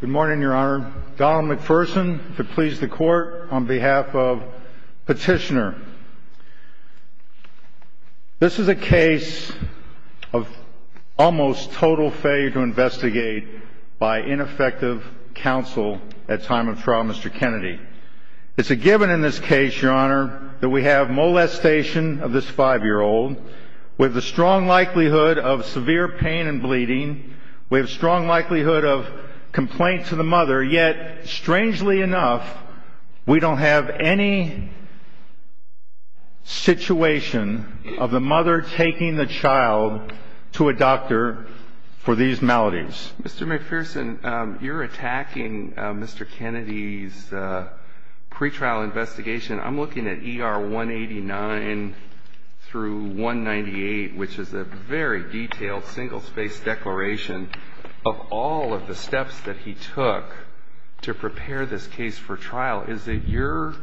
Good morning, Your Honor. Donald McPherson to please the Court on behalf of Petitioner. This is a case of almost total failure to investigate by ineffective counsel at time of trial, Mr. Kennedy. It's a given in this case, Your Honor, that we have molestation of this five-year-old. We have the strong likelihood of severe pain and bleeding. We have strong likelihood of complaint to the mother. Yet, strangely enough, we don't have any situation of the mother taking the child to a doctor for these maladies. Mr. McPherson, you're attacking Mr. Kennedy's pretrial investigation. I'm looking at ER 189 through 198, which is a very detailed single-space declaration of all of the steps that he took to prepare this case for trial. Is it your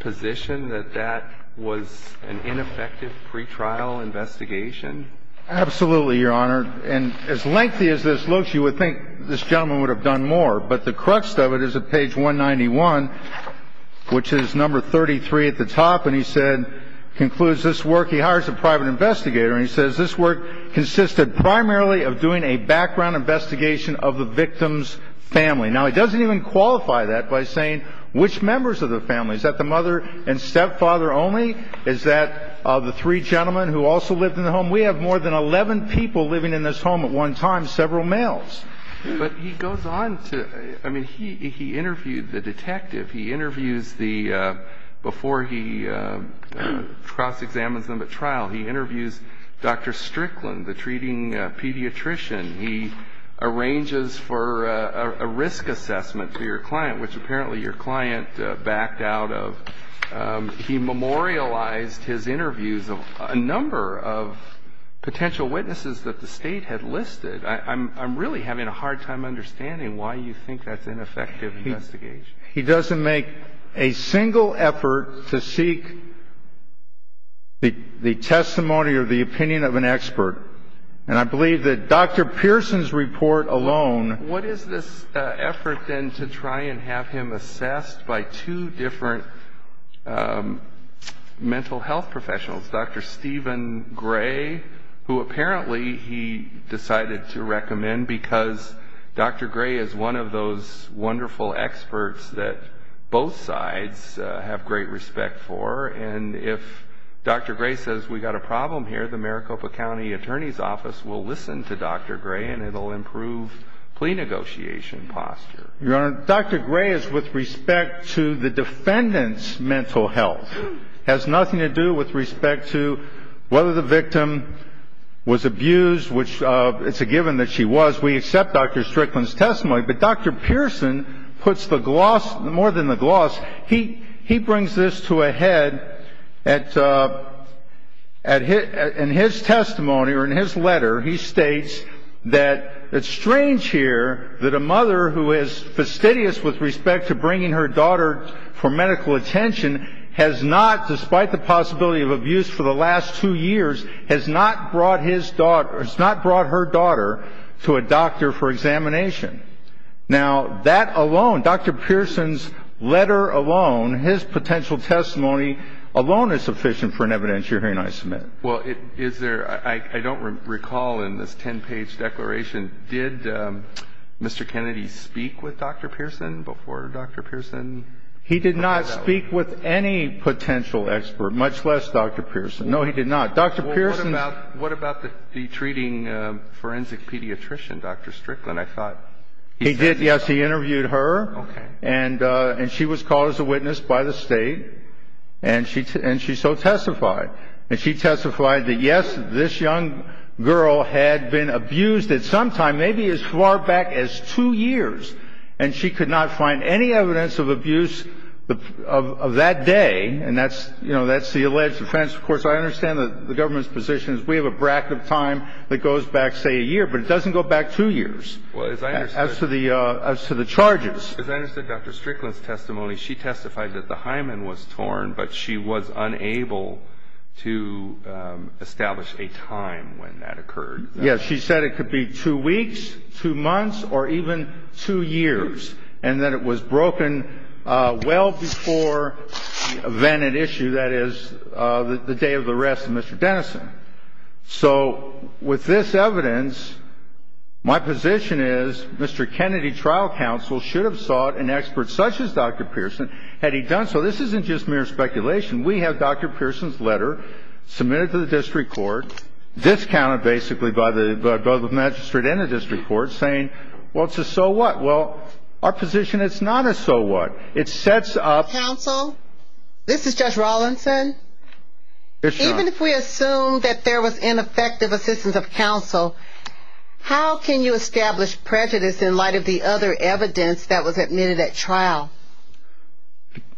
position that that was an ineffective pretrial investigation? Absolutely, Your Honor. And as lengthy as this looks, you would think this gentleman would have done more. But the crux of it is at page 191, which is number 33 at the top, and he said, concludes this work. He hires a private investigator, and he says this work consisted primarily of doing a background investigation of the victim's family. Now, he doesn't even qualify that by saying which members of the family. Is that the mother and stepfather only? Is that the three gentlemen who also lived in the home? We have more than 11 people living in this home at one time, several males. But he goes on to – I mean, he interviewed the detective. He interviews the – before he cross-examines them at trial, he interviews Dr. Strickland, the treating pediatrician. He arranges for a risk assessment to your client, which apparently your client backed out of. He memorialized his interviews of a number of potential witnesses that the State had listed. I'm really having a hard time understanding why you think that's ineffective investigation. He doesn't make a single effort to seek the testimony or the opinion of an expert. And I believe that Dr. Pearson's report alone – What is this effort, then, to try and have him assessed by two different mental health professionals, Dr. Stephen Gray, who apparently he decided to recommend because Dr. Gray is one of those wonderful experts that both sides have great respect for. And if Dr. Gray says we've got a problem here, the Maricopa County Attorney's Office will listen to Dr. Gray and it will improve plea negotiation posture. Your Honor, Dr. Gray is with respect to the defendant's mental health. It has nothing to do with respect to whether the victim was abused, which it's a given that she was. We accept Dr. Strickland's testimony. But Dr. Pearson puts the gloss – more than the gloss, he brings this to a head at – in his testimony or in his letter, he states that it's strange here that a mother who is fastidious with respect to bringing her daughter for medical attention has not, despite the possibility of abuse for the last two years, has not brought his daughter – has not brought her daughter to a doctor for examination. Now, that alone, Dr. Pearson's letter alone, his potential testimony alone is sufficient for an evidence you're hearing I submit. Well, is there – I don't recall in this 10-page declaration, did Mr. Kennedy speak with Dr. Pearson before Dr. Pearson – He did not speak with any potential expert, much less Dr. Pearson. No, he did not. Dr. Pearson – Well, what about the treating forensic pediatrician, Dr. Strickland? I thought he said – He did, yes. He interviewed her. Okay. And she was called as a witness by the State. And she so testified. And she testified that, yes, this young girl had been abused at some time, maybe as far back as two years, and she could not find any evidence of abuse of that day. And that's – you know, that's the alleged offense. Of course, I understand the government's position is we have a bracket of time that goes back, say, a year, but it doesn't go back two years. Well, as I understand – As to the charges. As I understand Dr. Strickland's testimony, she testified that the hymen was torn, but she was unable to establish a time when that occurred. Yes. She said it could be two weeks, two months, or even two years, and that it was broken well before the event at issue, that is, the day of the arrest of Mr. Dennison. So with this evidence, my position is Mr. Kennedy trial counsel should have sought an expert such as Dr. Pearson had he done so. This isn't just mere speculation. We have Dr. Pearson's letter submitted to the district court, discounted basically by the magistrate and the district court, saying, well, it's a so what. Well, our position is it's not a so what. It sets up – Yes, Your Honor. Even if we assume that there was ineffective assistance of counsel, how can you establish prejudice in light of the other evidence that was admitted at trial?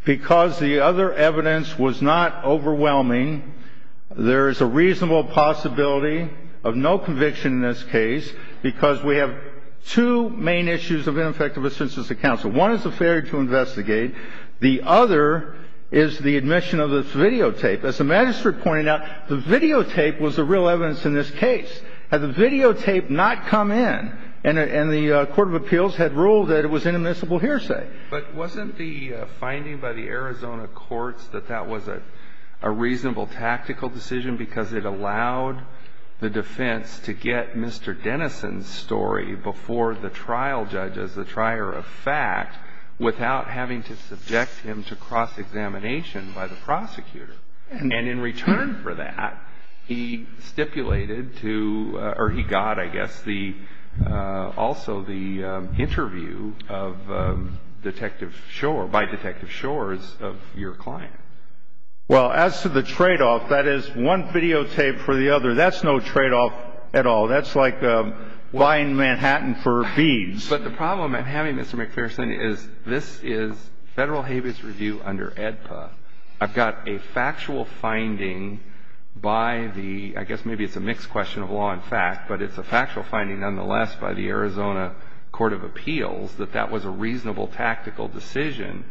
Because the other evidence was not overwhelming, there is a reasonable possibility of no conviction in this case because we have two main issues of ineffective assistance of counsel. One is the failure to investigate. The other is the admission of this videotape. As the magistrate pointed out, the videotape was the real evidence in this case. Had the videotape not come in and the court of appeals had ruled that it was inadmissible hearsay. But wasn't the finding by the Arizona courts that that was a reasonable tactical decision because it allowed the defense to get Mr. Dennison's story before the trial judge as the trier of fact without having to subject him to cross-examination by the prosecutor? And in return for that, he stipulated to – or he got, I guess, also the interview by Detective Shores of your client. Well, as to the tradeoff, that is one videotape for the other. That's no tradeoff at all. That's like buying Manhattan for beans. But the problem I'm having, Mr. McPherson, is this is Federal Habeas Review under AEDPA. I've got a factual finding by the – I guess maybe it's a mixed question of law and fact, but it's a factual finding nonetheless by the Arizona court of appeals that that was a reasonable tactical decision.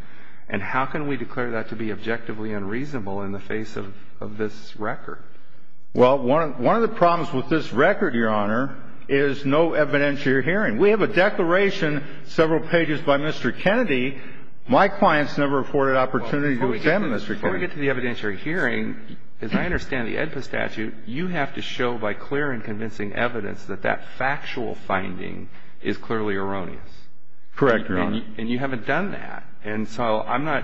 And how can we declare that to be objectively unreasonable in the face of this record? Well, one of the problems with this record, Your Honor, is no evidentiary hearing. We have a declaration several pages by Mr. Kennedy. My clients never afforded opportunity to examine Mr. Kennedy. Before we get to the evidentiary hearing, as I understand the AEDPA statute, you have to show by clear and convincing evidence that that factual finding is clearly erroneous. Correct, Your Honor. And you haven't done that. And so I'm not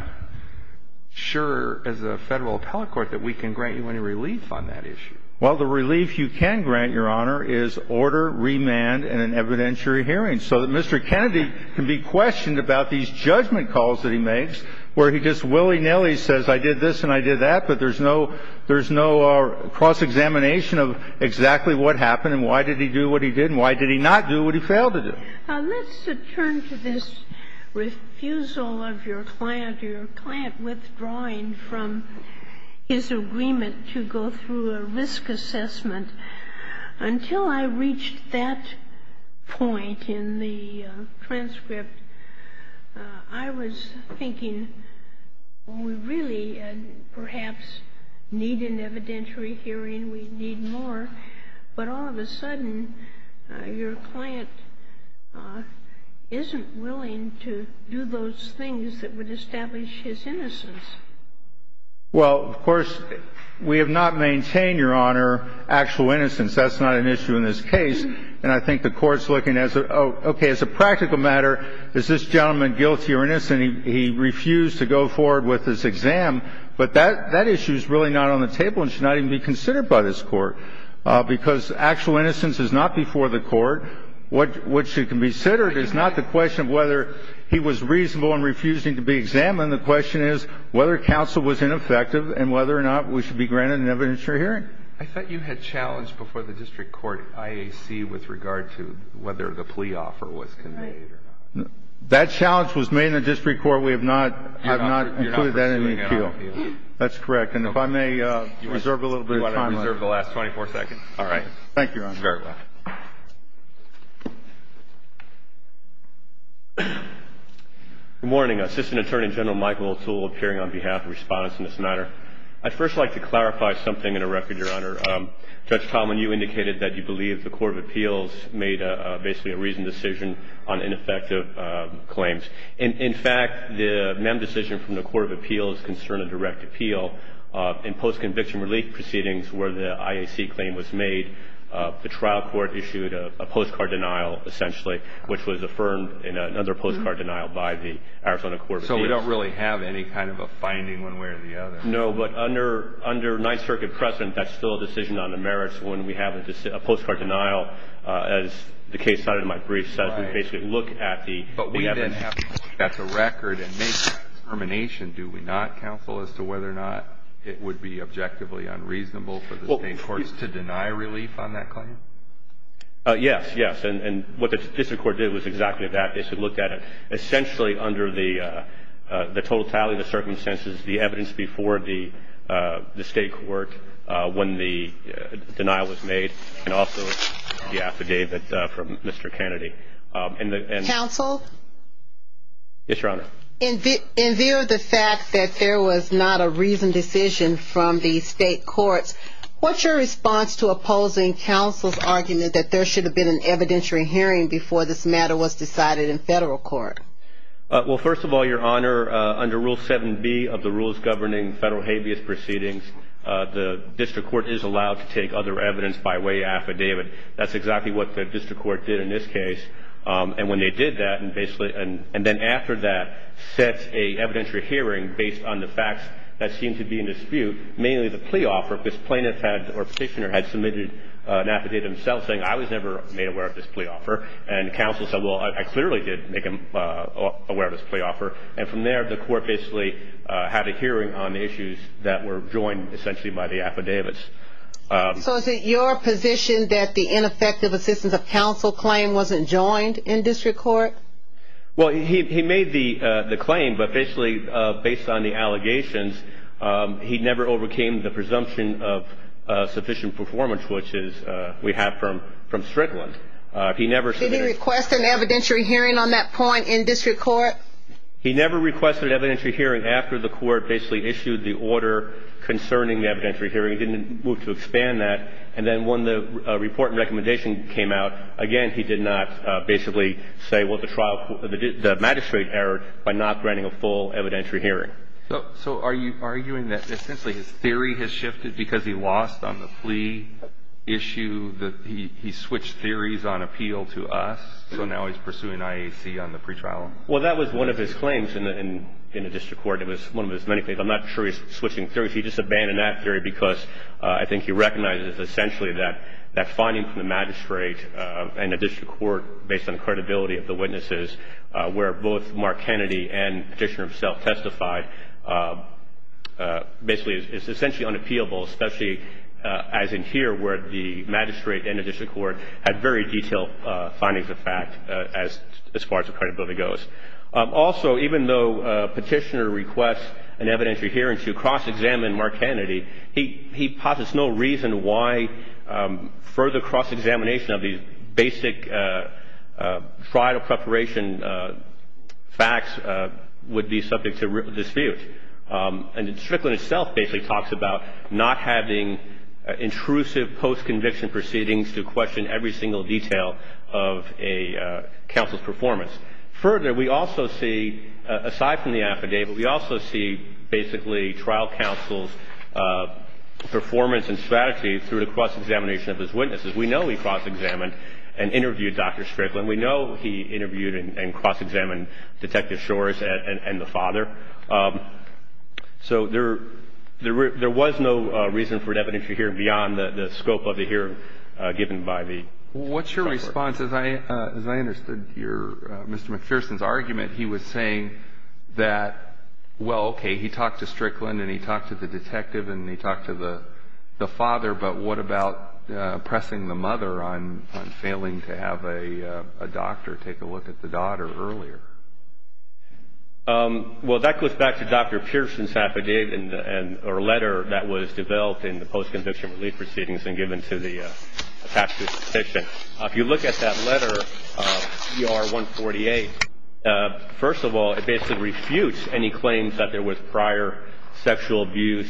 sure as a Federal appellate court that we can grant you any relief on that issue. Well, the relief you can grant, Your Honor, is order, remand, and an evidentiary hearing so that Mr. Kennedy can be questioned about these judgment calls that he makes where he just willy-nilly says, I did this and I did that, but there's no cross-examination of exactly what happened and why did he do what he did and why did he not do what he failed to do. Let's return to this refusal of your client or your client withdrawing from his agreement to go through a risk assessment. Until I reached that point in the transcript, I was thinking we really perhaps need an evidentiary hearing, we need more, but all of a sudden your client isn't willing to do those things that would establish his innocence. Well, of course, we have not maintained, Your Honor, actual innocence. That's not an issue in this case. And I think the Court's looking at, okay, as a practical matter, is this gentleman guilty or innocent? He refused to go forward with his exam. But that issue is really not on the table and should not even be considered by this Court, because actual innocence is not before the Court. What should be considered is not the question of whether he was reasonable in refusing to be examined. The question is whether counsel was ineffective and whether or not we should be granted an evidentiary hearing. I thought you had challenged before the district court IAC with regard to whether the plea offer was conveyed or not. That challenge was made in the district court. We have not included that in the appeal. That's correct. And if I may reserve a little bit of time. You want to reserve the last 24 seconds? All right. Thank you, Your Honor. Sure. Good morning. Assistant Attorney General Michael O'Toole appearing on behalf of respondents in this matter. I'd first like to clarify something in a record, Your Honor. Judge Tallman, you indicated that you believe the Court of Appeals made basically a reasoned decision on ineffective claims. In fact, the MEM decision from the Court of Appeals concerned a direct appeal. In post-conviction relief proceedings where the IAC claim was made, the trial court issued a postcard denial, essentially, which was affirmed in another postcard denial by the Arizona Court of Appeals. So we don't really have any kind of a finding one way or the other. No, but under Ninth Circuit precedent, that's still a decision on the merits when we have a postcard denial. As the case cited in my brief says, we basically look at the evidence. But we then have to look at the record and make a determination, do we not, counsel, as to whether or not it would be objectively unreasonable for the state courts to deny relief on that claim? Yes, yes. And what the district court did was exactly that. They looked at it essentially under the totality of the circumstances, the evidence before the state court when the denial was made and also the affidavit from Mr. Kennedy. Counsel? Yes, Your Honor. In view of the fact that there was not a reasoned decision from the state courts, what's your response to opposing counsel's argument that there should have been an evidentiary hearing before this matter was decided in federal court? Well, first of all, Your Honor, under Rule 7B of the Rules Governing Federal Habeas Proceedings, the district court is allowed to take other evidence by way of affidavit. That's exactly what the district court did in this case. And when they did that and then after that set an evidentiary hearing based on the facts that seemed to be in dispute, mainly the plea offer, this plaintiff had or petitioner had submitted an affidavit himself saying, I was never made aware of this plea offer. And counsel said, well, I clearly did make him aware of this plea offer. And from there the court basically had a hearing on the issues that were joined essentially by the affidavits. So is it your position that the ineffective assistance of counsel claim wasn't joined in district court? Well, he made the claim, but basically based on the allegations, he never overcame the presumption of sufficient performance, which is we have from Strickland. Did he request an evidentiary hearing on that point in district court? He never requested an evidentiary hearing after the court basically issued the order concerning the evidentiary hearing. He didn't move to expand that. And then when the report and recommendation came out, again, he did not basically say, well, the magistrate erred by not granting a full evidentiary hearing. So are you arguing that essentially his theory has shifted because he lost on the plea issue, that he switched theories on appeal to us, so now he's pursuing IAC on the pretrial? Well, that was one of his claims in the district court. It was one of his many claims. I'm not sure he's switching theories. He just abandoned that theory because I think he recognizes essentially that finding from the magistrate and the district court based on the credibility of the witnesses where both Mark Kennedy and Petitioner himself testified basically is essentially unappealable, especially as in here where the magistrate and the district court had very detailed findings of fact as far as the credibility goes. Also, even though Petitioner requests an evidentiary hearing to cross-examine Mark Kennedy, he posits no reason why further cross-examination of these basic trial preparation facts would be subject to dispute. And the district court itself basically talks about not having intrusive post-conviction proceedings to question every single detail of a counsel's performance. Further, we also see, aside from the affidavit, we also see basically trial counsel's performance and strategy through the cross-examination of his witnesses. We know he cross-examined and interviewed Dr. Strickland. We know he interviewed and cross-examined Detective Shores and the father. So there was no reason for an evidentiary hearing beyond the scope of the hearing given by the district court. What's your response? As I understood Mr. McPherson's argument, he was saying that, well, okay, he talked to Strickland and he talked to the detective and he talked to the father, but what about pressing the mother on failing to have a doctor take a look at the daughter earlier? Well, that goes back to Dr. Pearson's affidavit or letter that was developed in the If you look at that letter, ER-148, first of all, it basically refutes any claims that there was prior sexual abuse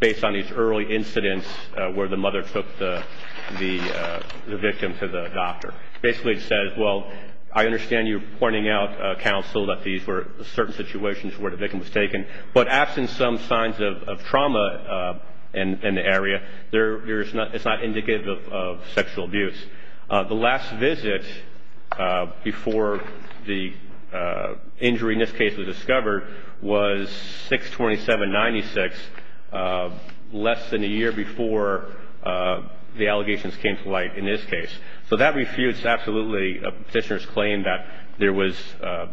based on these early incidents where the mother took the victim to the doctor. Basically it says, well, I understand you're pointing out, counsel, that these were certain situations where the victim was taken, but absent some signs of trauma in the area, it's not indicative of sexual abuse. The last visit before the injury in this case was discovered was 6-27-96, less than a year before the allegations came to light in this case. So that refutes absolutely a petitioner's claim that there was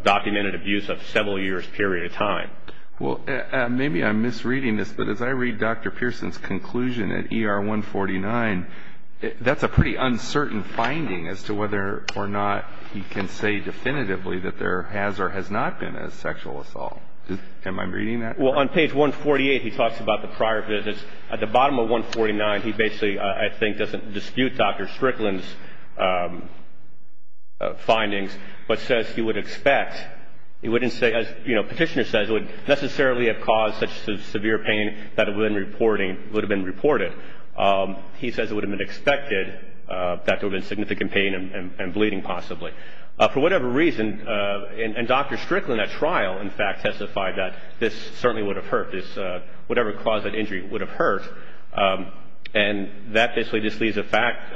documented abuse of several years' period of time. Well, maybe I'm misreading this, but as I read Dr. Pearson's conclusion at ER-149, that's a pretty uncertain finding as to whether or not he can say definitively that there has or has not been a sexual assault. Am I reading that right? Well, on page 148 he talks about the prior visits. At the bottom of 149 he basically, I think, doesn't dispute Dr. Strickland's findings, but says he would expect, he wouldn't say, as petitioner says, it would necessarily have caused such severe pain that it would have been reported. He says it would have been expected that there would have been significant pain and bleeding possibly. For whatever reason, and Dr. Strickland at trial, in fact, testified that this certainly would have hurt, whatever caused that injury would have hurt, and that basically just leaves a fact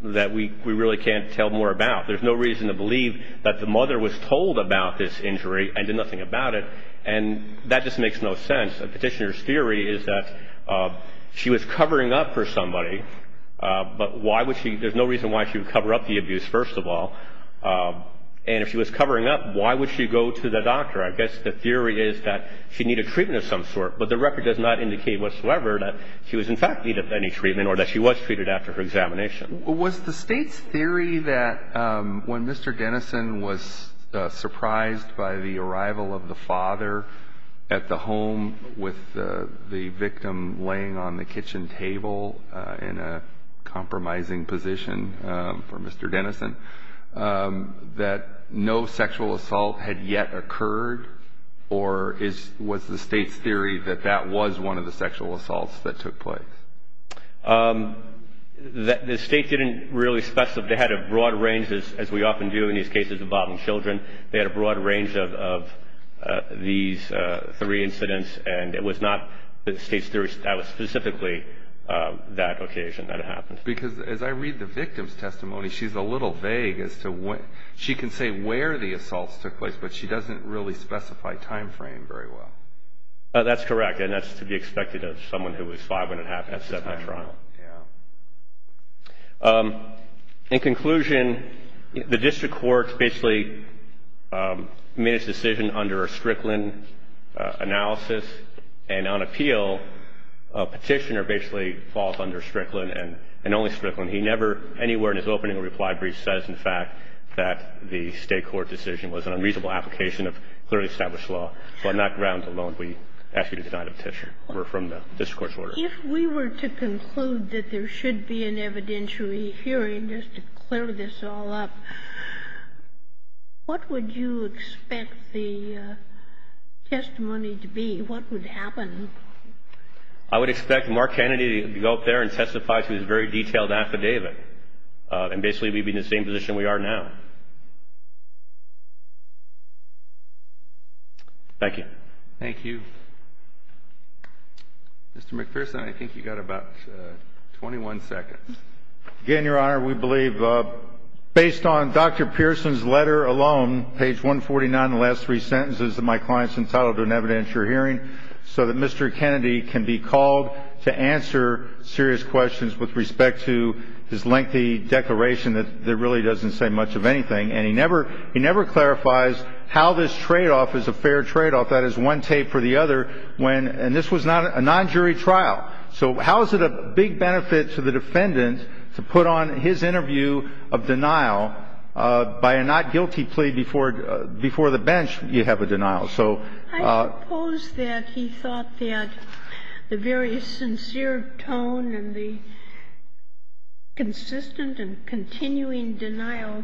that we really can't tell more about. There's no reason to believe that the mother was told about this injury and did nothing about it, and that just makes no sense. A petitioner's theory is that she was covering up for somebody, but there's no reason why she would cover up the abuse, first of all. And if she was covering up, why would she go to the doctor? I guess the theory is that she needed treatment of some sort, but the record does not indicate whatsoever that she was, in fact, needed any treatment or that she was treated after her examination. Was the State's theory that when Mr. Denison was surprised by the arrival of the father at the home with the victim laying on the kitchen table in a compromising position for Mr. Denison, that no sexual assault had yet occurred, or was the State's theory that that was one of the sexual assaults that took place? The State didn't really specify. They had a broad range, as we often do in these cases involving children. They had a broad range of these three incidents, and it was not the State's theory that was specifically that occasion that it happened. Because as I read the victim's testimony, she's a little vague as to what... She can say where the assaults took place, but she doesn't really specify time frame very well. That's correct, and that's to be expected of someone who is five-and-a-half, at seven at trial. In conclusion, the District Court basically made its decision under a Strickland analysis, and on appeal, a petitioner basically falls under Strickland and only Strickland. He never anywhere in his opening reply brief says, in fact, that the State court decision was an unreasonable application of clearly established law. So on that ground alone, we ask you to deny the petition. We're from the District Court's order. If we were to conclude that there should be an evidentiary hearing, just to clear this all up, what would you expect the testimony to be? What would happen? I would expect Mark Kennedy to go up there and testify to his very detailed affidavit, and basically we'd be in the same position we are now. Thank you. Mr. McPherson, I think you've got about 21 seconds. Again, Your Honor, we believe, based on Dr. Pearson's letter alone, page 149, the last three sentences that my client's entitled to an evidentiary hearing, so that Mr. Kennedy can be called to answer serious questions with respect to his lengthy declaration that really doesn't say much of anything. And he never clarifies how this tradeoff is a fair tradeoff. And he never says anything about how this could have been a fair tradeoff. He never says anything about how this could have been a fair tradeoff. That is one tape for the other. And this was not a nonjury trial. So how is it a big benefit to the defendant to put on his interview of denial by a not-guilty plea before the bench, you have a denial. I suppose that he thought that the very sincere tone and the consistent and continuing denial,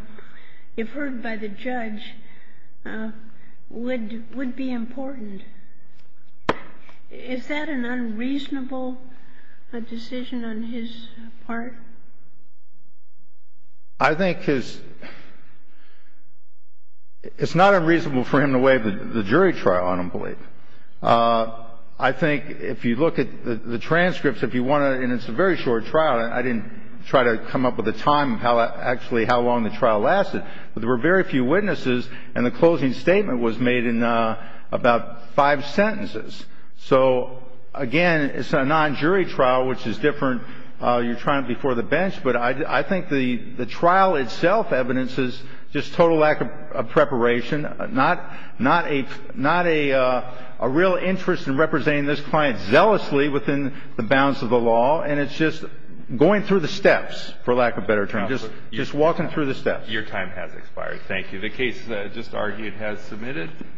if heard by the judge, would be important. Is that an unreasonable decision on his part? I think it's not unreasonable for him to waive the jury trial, I don't believe. I think if you look at the transcripts, if you want to, and it's a very short trial. I didn't try to come up with a time of how actually how long the trial lasted. But there were very few witnesses, and the closing statement was made in about five sentences. So, again, it's a nonjury trial, which is different. You're trying it before the bench. But I think the trial itself evidences just total lack of preparation, not a real interest in representing this client zealously within the bounds of the law. And it's just going through the steps, for lack of a better term, just walking through the steps. Your time has expired. Thank you. The case just argued has submitted.